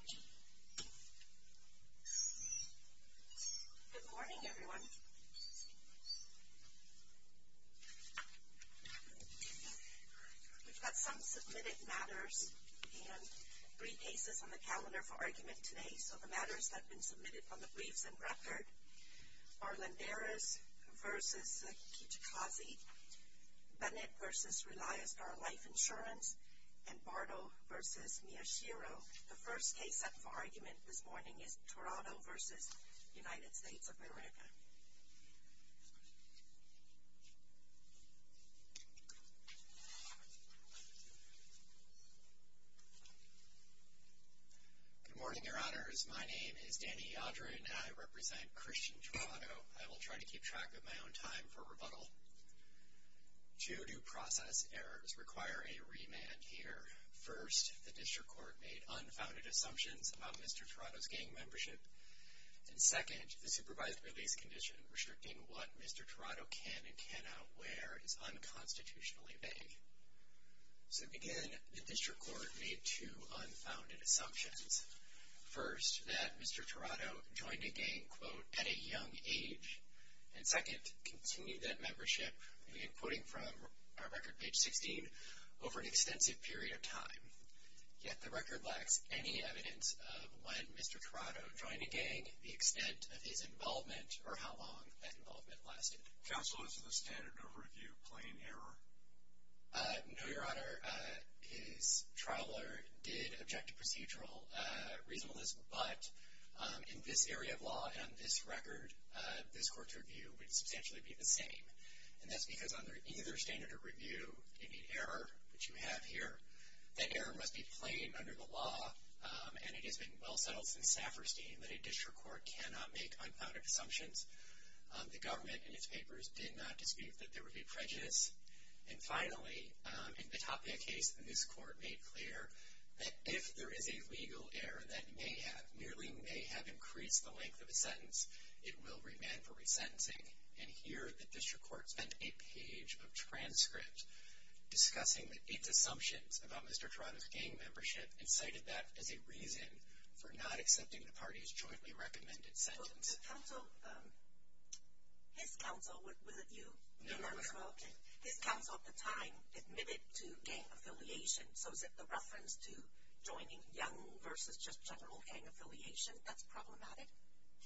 Good morning, everyone. We've got some submitted matters and three cases on the calendar for argument today. So the matters that have been submitted on the briefs and record are Landeras v. Kitchikazi, Bennett v. Relias, our life insurance, and Bardo v. Miyashiro. The first case up for argument this morning is Tirado v. United States of America. Good morning, Your Honors. My name is Danny Yadrin and I represent Christian Tirado. I will try to keep track of my own time for rebuttal. Two due process errors require a remand here. First, the District Court made unfounded assumptions about Mr. Tirado's gang membership. And second, the supervised release condition restricting what Mr. Tirado can and cannot wear is unconstitutionally vague. So again, the District Court made two unfounded assumptions. First, that Mr. Tirado joined a gang, quote, at a young age. And second, continued that membership, again quoting from our record page 16, over an extensive period of time. Yet the record lacks any evidence of when Mr. Tirado joined a gang, the extent of his involvement, or how long that involvement lasted. Counsel, is the standard of review plain error? No, Your Honor. His trial did object to procedural reasonableness. But in this area of law and on this record, this court's review would substantially be the same. And that's because under either standard of review, you need error, which you have here. That error must be plain under the law and it has been well settled since Safferstein that a District Court cannot make unfounded assumptions. The government in its papers did not dispute that there would be prejudice. And finally, in the Tapia case, this court made clear that if there is a legal error that may have, nearly may have, increased the length of a sentence, it will remand for resentencing. And here, the District Court sent a page of transcript discussing its assumptions about Mr. Tirado's gang membership and cited that as a reason for not accepting the party's jointly recommended sentence. Counsel, his counsel, was it you? No, no. His counsel at the time admitted to gang affiliation. So is it the reference to joining young versus just general gang affiliation that's problematic?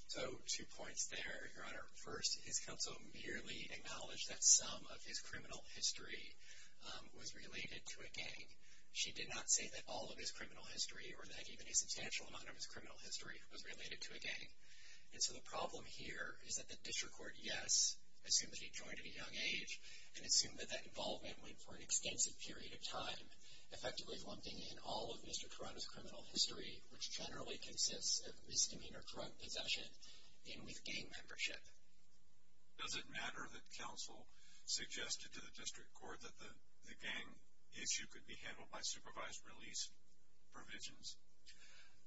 So two points there, Your Honor. First, his counsel merely acknowledged that some of his criminal history was related to a gang. She did not say that all of his criminal history or that even a substantial amount of his criminal history was related to a gang. And so the problem here is that the District Court, yes, assumed that he joined at a young age and assumed that that involvement went for an extensive period of time, effectively lumping in all of Mr. Tirado's criminal history, which generally consists of misdemeanor drug possession and with gang membership. Does it matter that counsel suggested to the District Court that the gang issue could be handled by supervised release provisions?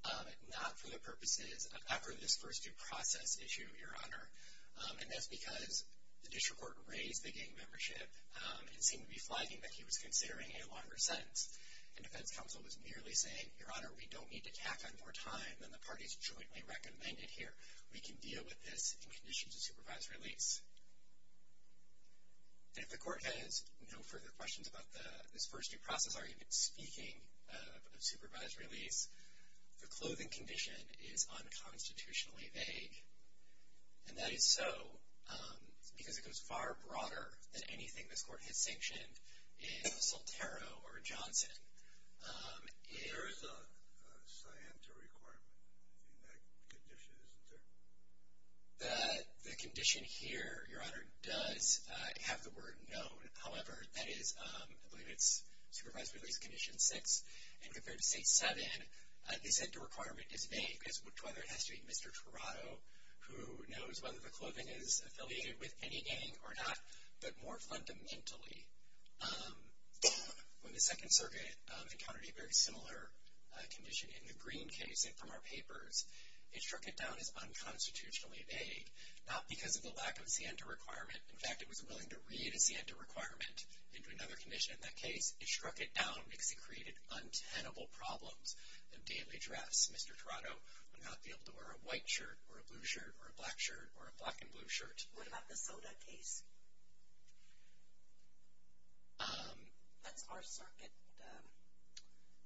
Not for the purposes of this first due process issue, Your Honor. And that's because the District Court raised the gang membership and seemed to be flagging that he was considering a longer sentence. And defense counsel was merely saying, Your Honor, we don't need to tack on more time than the party's jointly recommended here. We can deal with this in conditions of supervised release. And if the Court has no further questions about this first due process argument, speaking of supervised release, the clothing condition is unconstitutionally vague. And that is so because it goes far broader than anything this Court has sanctioned in Soltero or Johnson. There is a scienter requirement in that condition, isn't there? The condition here, Your Honor, does have the word known. However, that is, I believe it's supervised release condition six. And compared to state seven, they said the requirement is vague, as to whether it has to be Mr. Tirado who knows whether the clothing is affiliated with any gang or not. But more fundamentally, when the Second Circuit encountered a very similar condition in the Green case from our papers, it struck it down as unconstitutionally vague, not because of the lack of scienter requirement. In fact, it was willing to read a scienter requirement into another condition in that case. It struck it down because it created untenable problems in daily dress. Mr. Tirado would not be able to wear a white shirt or a blue shirt or a black shirt or a black and blue shirt. What about the Soda case? That's our circuit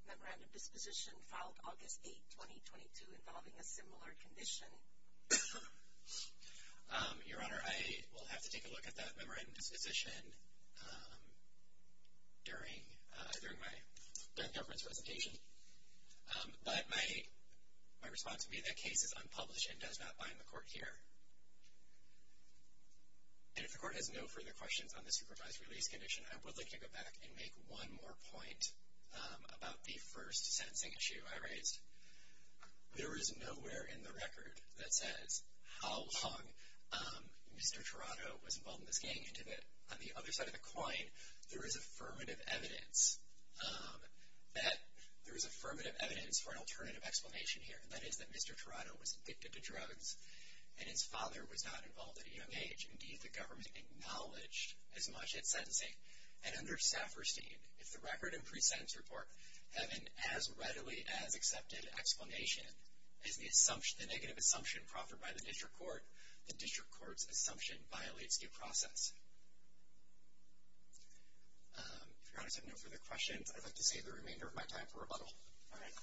memorandum disposition filed August 8, 2022, involving a similar condition. Your Honor, I will have to take a look at that memorandum disposition during my death deference presentation. But my response would be that case is unpublished and does not bind the court here. And if the court has no further questions on the supervised release condition, I would like to go back and make one more point about the first sentencing issue I raised. There is nowhere in the record that says how long Mr. Tirado was involved in this gang, and on the other side of the coin, there is affirmative evidence for an alternative explanation here. And that is that Mr. Tirado was addicted to drugs and his father was not involved at a young age. Indeed, the government acknowledged as much as sentencing. And under Safferstein, if the record and pre-sentence report have an as readily as accepted explanation, if the negative assumption proffered by the district court, the district court's assumption violates due process. If Your Honor has no further questions, I'd like to save the remainder of my time for rebuttal. All right.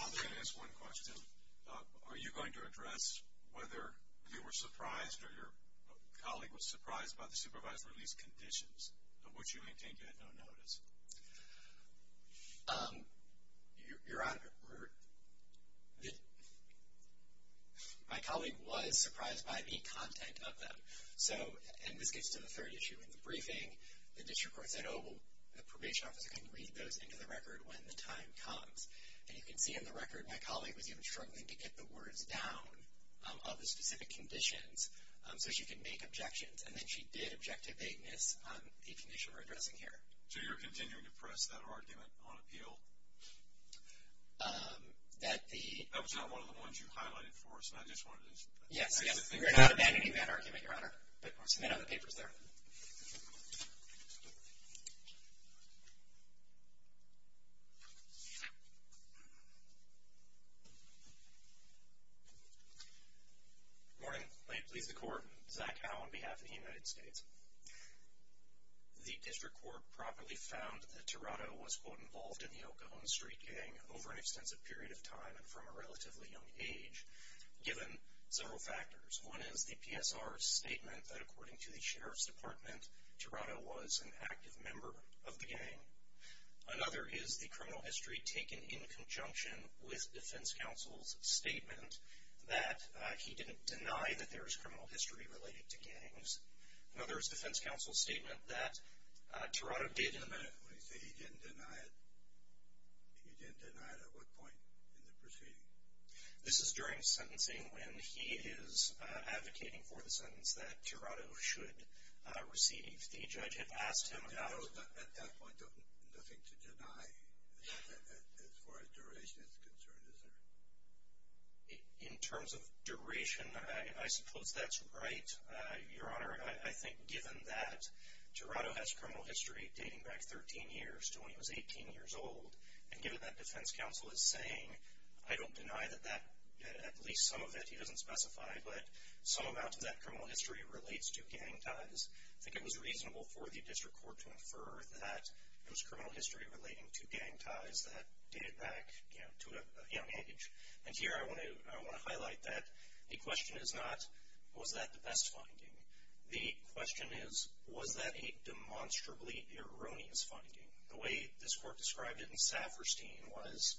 I'm going to ask one question. Are you going to address whether you were surprised or your colleague was surprised by the supervised release conditions, which you maintain you had no notice? Your Honor, my colleague was surprised by the content of them. And this gets to the third issue in the briefing. The district court said, oh, the probation officer can read those into the record when the time comes. And you can see in the record my colleague was even struggling to get the words down of the specific conditions so she could make objections, and then she did object to vagueness on the condition we're addressing here. So you're continuing to press that argument on appeal? That the... That was not one of the ones you highlighted for us, and I just wanted to... Yes, yes. We are not abandoning that argument, Your Honor. But we'll submit other papers there. Good morning. Lane Pleas the Court. Zach Howe on behalf of the United States. The district court properly found that Tirado was, quote, involved in the Oklahoma Street Gang over an extensive period of time and from a relatively young age, given several factors. One is the PSR's statement that, according to the Sheriff's Department, Tirado was an active member of the gang. Another is the criminal history taken in conjunction with defense counsel's statement Another is defense counsel's statement that Tirado did... Wait a minute. When you say he didn't deny it, he didn't deny it at what point in the proceeding? This is during sentencing when he is advocating for the sentence that Tirado should receive. The judge had asked him about... At that point, nothing to deny as far as duration is concerned, is there? I think given that Tirado has criminal history dating back 13 years to when he was 18 years old, and given that defense counsel is saying, I don't deny that at least some of it he doesn't specify, but some amount of that criminal history relates to gang ties, I think it was reasonable for the district court to infer that it was criminal history relating to gang ties that dated back to a young age. And here I want to highlight that the question is not, was that the best finding? The question is, was that a demonstrably erroneous finding? The way this court described it in Safferstein was,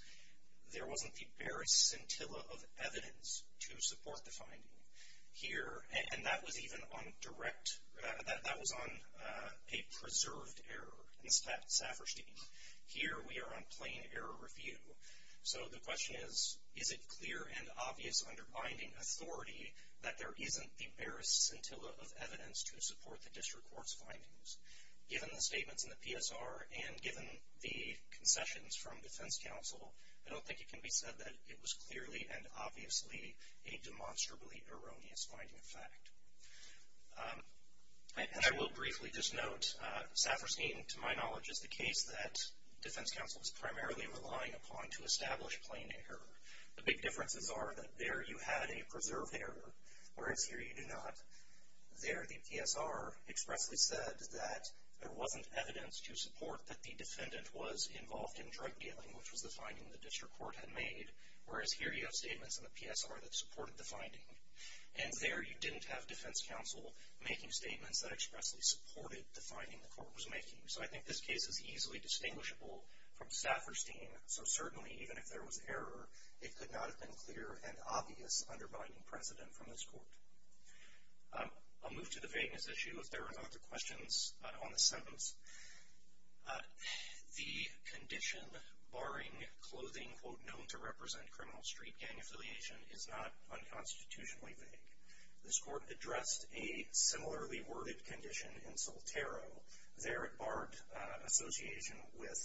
there wasn't the barest scintilla of evidence to support the finding. Here, and that was even on direct... That was on a preserved error. In fact, Safferstein, here we are on plain error review. So the question is, is it clear and obvious under binding authority that there isn't the barest scintilla of evidence to support the district court's findings? Given the statements in the PSR and given the concessions from defense counsel, I don't think it can be said that it was clearly and obviously a demonstrably erroneous finding of fact. And I will briefly just note, Safferstein, to my knowledge, is the case that defense counsel is primarily relying upon to establish plain error. The big differences are that there you had a preserved error, whereas here you do not. There the PSR expressly said that there wasn't evidence to support that the defendant was involved in drug dealing, which was the finding the district court had made, whereas here you have statements in the PSR that supported the finding. And there you didn't have defense counsel making statements that expressly supported the finding the court was making. So I think this case is easily distinguishable from Safferstein. So certainly, even if there was error, it could not have been clear and obvious under binding precedent from this court. I'll move to the vagueness issue if there are no other questions on this sentence. The condition barring clothing, quote, known to represent criminal street gang affiliation is not unconstitutionally vague. This court addressed a similarly worded condition in Soltero. There it barred association with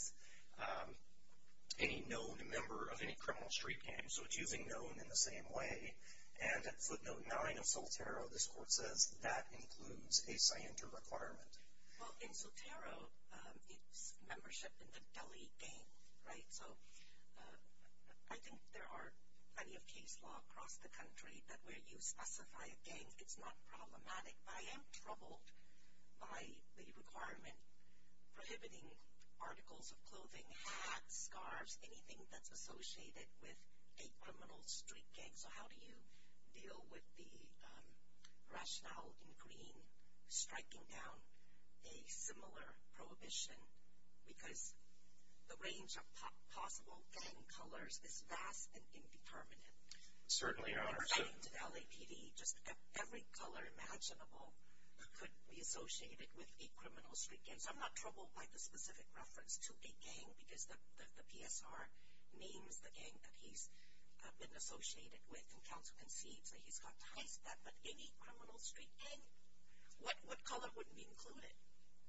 any known member of any criminal street gang. So it's using known in the same way. And at footnote 9 of Soltero, this court says that includes a scienter requirement. Well, in Soltero, it's membership in the Delhi gang, right? So I think there are plenty of case law across the country that where you specify a gang, it's not problematic. But I am troubled by the requirement prohibiting articles of clothing, hats, scarves, anything that's associated with a criminal street gang. So how do you deal with the rationale in Green striking down a similar prohibition? Because the range of possible gang colors is vast and indeterminate. Certainly, Your Honor. In writing to the LAPD, just every color imaginable could be associated with a criminal street gang. So I'm not troubled by the specific reference to a gang because the PSR names the gang that he's been associated with and counsel concedes that he's got ties to that. But any criminal street gang, what color wouldn't be included?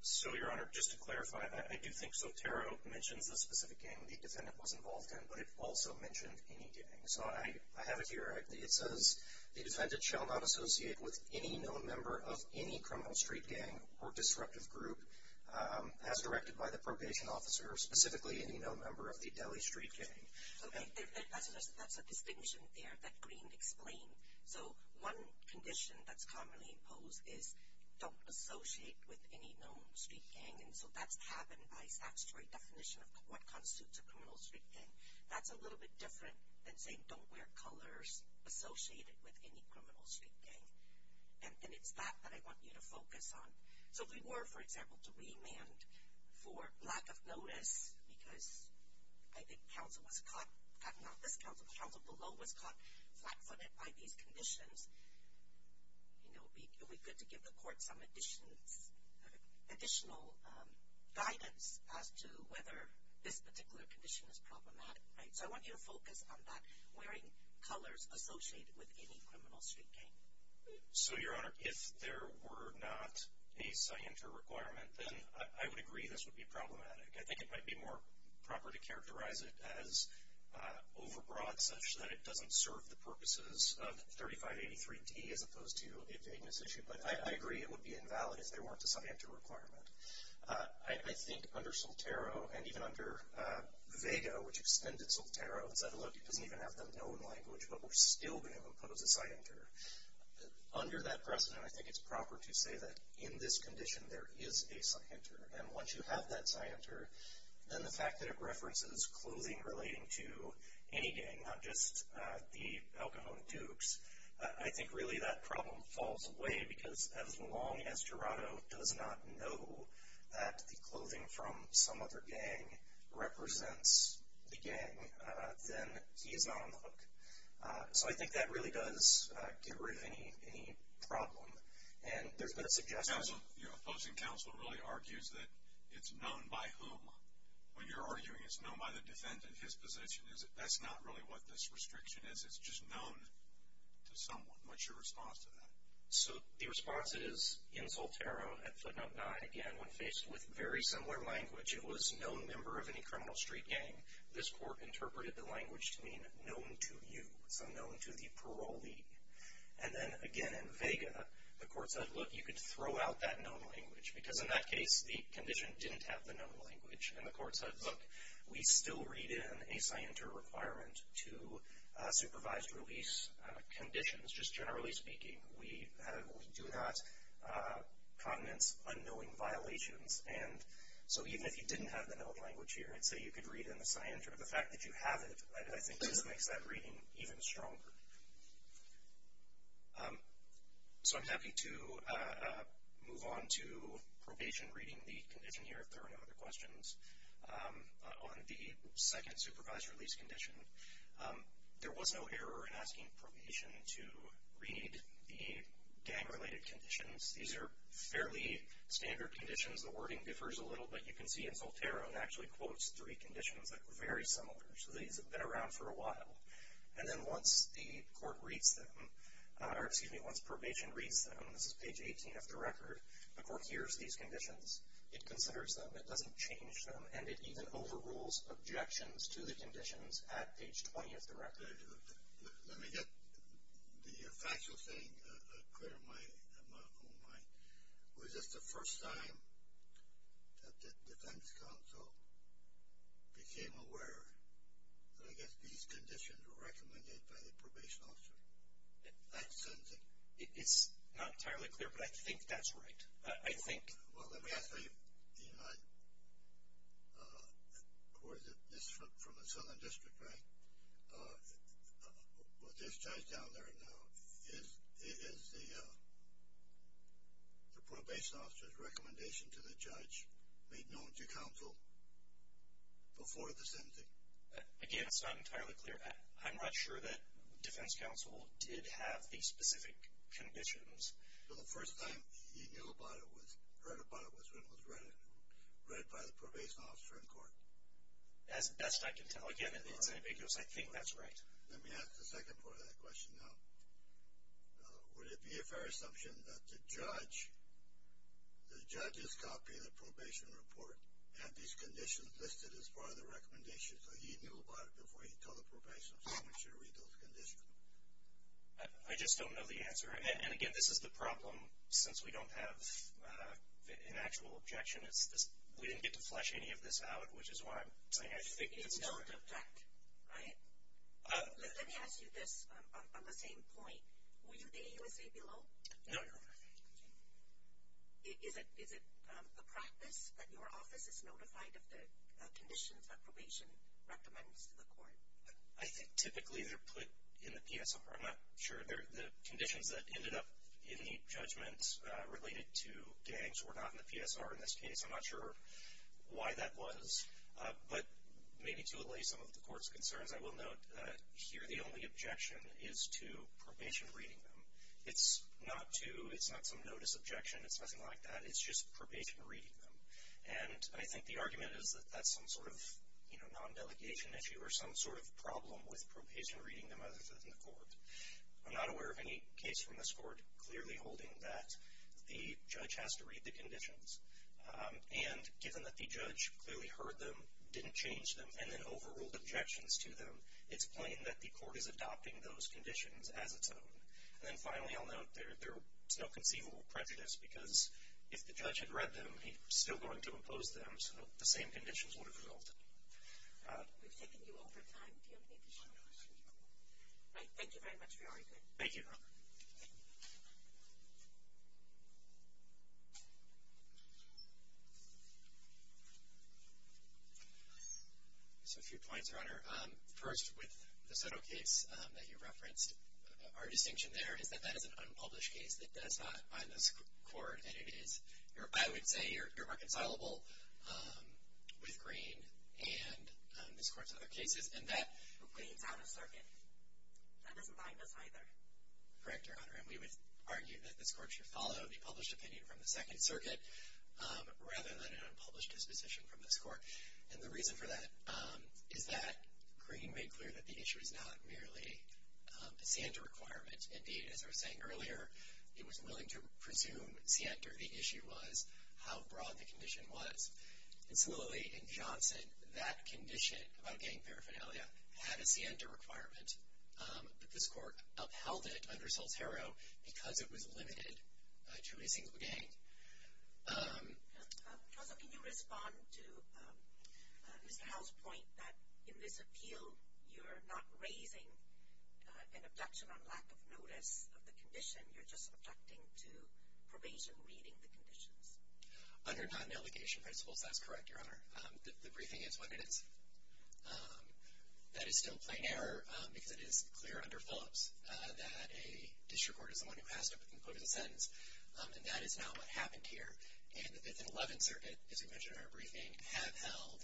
So, Your Honor, just to clarify, I do think Soltero mentions the specific gang the defendant was involved in, but it also mentioned any gang. So I have it here. It says the defendant shall not associate with any known member of any criminal street gang or disruptive group as directed by the probation officer, or specifically any known member of the Delhi street gang. Okay. That's a distinction there that Green explained. So one condition that's commonly imposed is don't associate with any known street gang. And so that's happened by statutory definition of what constitutes a criminal street gang. That's a little bit different than saying don't wear colors associated with any criminal street gang. And it's that that I want you to focus on. So if we were, for example, to remand for lack of notice because I think counsel was caught, not this counsel, but counsel below was caught flat-footed by these conditions, it would be good to give the court some additional guidance as to whether this particular condition is problematic. So I want you to focus on that, wearing colors associated with any criminal street gang. So, Your Honor, if there were not a scienter requirement, then I would agree this would be problematic. I think it might be more proper to characterize it as overbroad, such that it doesn't serve the purposes of 3583D as opposed to a vagueness issue. But I agree it would be invalid if there weren't a scienter requirement. I think under Soltero, and even under Vega, which extended Soltero, and said, look, it doesn't even have the known language, but we're still going to impose a scienter. Under that precedent, I think it's proper to say that in this condition there is a scienter. And once you have that scienter, then the fact that it references clothing relating to any gang, not just the El Cajon Dukes, I think really that problem falls away because as long as Gerardo does not know that the clothing from some other gang represents the gang, then he is not on the hook. So I think that really does get rid of any problem. And there's been a suggestion. Your opposing counsel really argues that it's known by whom. When you're arguing it's known by the defendant, his position, that's not really what this restriction is, it's just known to someone. What's your response to that? So the response is, in Soltero, at footnote 9, again, when faced with very similar language, it was no member of any criminal street gang. This court interpreted the language to mean known to you, so known to the parolee. And then, again, in Vega, the court said, look, you could throw out that known language, because in that case the condition didn't have the known language. And the court said, look, we still read in a scienter requirement to supervise release conditions, just generally speaking, we do not condense unknowing violations. And so even if you didn't have the known language here, and so you could read in the scienter, the fact that you have it, I think, just makes that reading even stronger. So I'm happy to move on to probation reading the condition here, if there are no other questions, on the second supervised release condition. There was no error in asking probation to read the gang-related conditions. These are fairly standard conditions. The wording differs a little, but you can see in Soltero, it actually quotes three conditions that were very similar. So these have been around for a while. And then once the court reads them, or excuse me, once probation reads them, this is page 18 of the record, the court hears these conditions, it considers them, it doesn't change them, and it even overrules objections to the conditions at page 20 of the record. Let me get the factual thing clear in my mind. Was this the first time that the defense counsel became aware that, I guess, these conditions were recommended by the probation officer? That's something. It's not entirely clear, but I think that's right. Well, let me ask you, this is from the Southern District, right? With this judge down there now, is the probation officer's recommendation to the judge made known to counsel before the sentencing? Again, it's not entirely clear. I'm not sure that defense counsel did have these specific conditions. So the first time he heard about it was when it was read by the probation officer in court? As best I can tell. Again, it's ambiguous. I think that's right. Let me ask the second part of that question now. Would it be a fair assumption that the judge, the judge's copy of the probation report, had these conditions listed as part of the recommendation, so he knew about it before he told the probation officer he should read those conditions? I just don't know the answer. And, again, this is the problem. Since we don't have an actual objection, we didn't get to flesh any of this out, which is why I'm saying I think this is correct. You don't object, right? Let me ask you this on the same point. Were you the AUSA below? No, no. Okay. Is it a practice that your office is notified of the conditions that probation recommends to the court? I think typically they're put in the PSR. I'm not sure. The conditions that ended up in the judgment related to gangs were not in the PSR in this case. I'm not sure why that was. But maybe to allay some of the court's concerns, I will note here the only objection is to probation reading them. It's not some notice objection. It's nothing like that. It's just probation reading them. And I think the argument is that that's some sort of non-delegation issue or some sort of problem with probation reading them other than the court. I'm not aware of any case from this court clearly holding that the judge has to read the conditions. And given that the judge clearly heard them, didn't change them, and then overruled objections to them, it's plain that the court is adopting those conditions as its own. And then finally I'll note there's no conceivable prejudice because if the judge had read them, he's still going to impose them, so the same conditions would have resulted. We've taken you over time. Do you have any additional questions? No. Thank you very much for your argument. Thank you. Just a few points, Your Honor. First, with the Soto case that you referenced, our distinction there is that that is an unpublished case that does not bind this court. I would say you're reconcilable with Green and this court's other cases in that- Green's out of circuit. That doesn't bind us either. Correct, Your Honor. And we would argue that this court should follow the published opinion from the Second Circuit rather than an unpublished disposition from this court. And the reason for that is that Green made clear that the issue is not merely a SANTA requirement. Indeed, as I was saying earlier, it was willing to presume SIENTA. The issue was how broad the condition was. And similarly in Johnson, that condition about gang paraphernalia had a SIENTA requirement. But this court upheld it under Saltero because it was limited to a single gang. Counsel, can you respond to Mr. Howell's point that in this appeal, you're not raising an objection on lack of notice of the condition. You're just objecting to probation reading the conditions. Under non-allegation principles, that's correct, Your Honor. The briefing is what it is. That is still plain error because it is clear under Phillips that a district court is the one who has to conclude a sentence. And that is not what happened here. And the Fifth and Eleventh Circuit, as we mentioned in our briefing, have held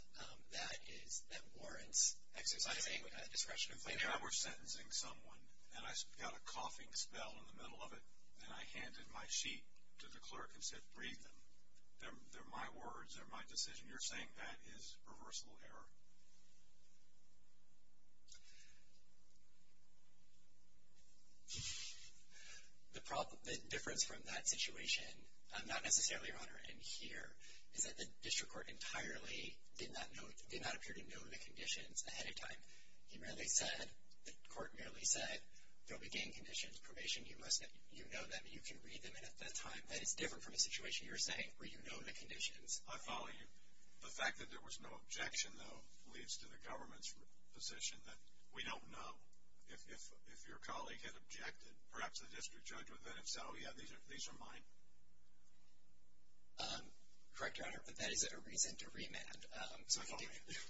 that warrants exercising discretion of plain error. If I were sentencing someone and I got a coughing spell in the middle of it and I handed my sheet to the clerk and said, breathe them, they're my words, they're my decision, you're saying that is reversible error? The difference from that situation, not necessarily, Your Honor, in here, is that the district court entirely did not appear to know the conditions ahead of time. He merely said, the court merely said, there'll be gang conditions, probation, you know them, you can read them, and at that time, that is different from a situation you're saying where you know the conditions. I follow you. The fact that there was no objection, though, leads to the government's position that we don't know. If your colleague had objected, perhaps the district judge, but then if so, yeah, these are mine. Correct, Your Honor, but that is a reason to remand. I follow you.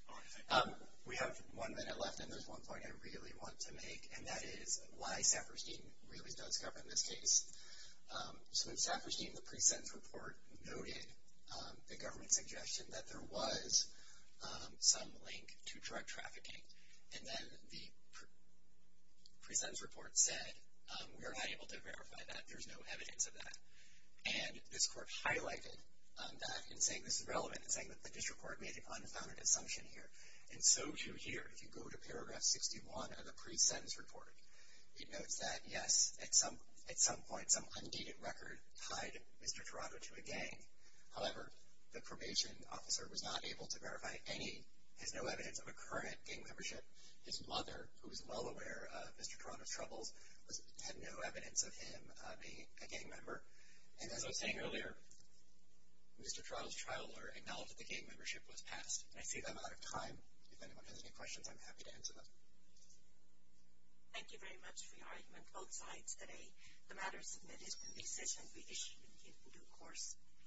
All right, thank you. We have one minute left, and there's one point I really want to make, and that is why Saperstein really does govern this case. So in Saperstein, the pre-sentence report noted the government's suggestion that there was some link to drug trafficking, and then the pre-sentence report said, we're not able to verify that. There's no evidence of that. And this court highlighted that in saying this is relevant, in saying that the district court made an unfounded assumption here. And so, too, here, if you go to paragraph 61 of the pre-sentence report, it notes that, yes, at some point, some undated record tied Mr. Toronto to a gang. However, the probation officer was not able to verify any, has no evidence of a current gang membership. His mother, who is well aware of Mr. Toronto's troubles, had no evidence of him being a gang member. And as I was saying earlier, Mr. Toronto's trial lawyer acknowledged that the gang membership was passed. And I see that I'm out of time. If anyone has any questions, I'm happy to answer them. Thank you very much for your argument both sides today. The matter submitted in this session will be issued in due course.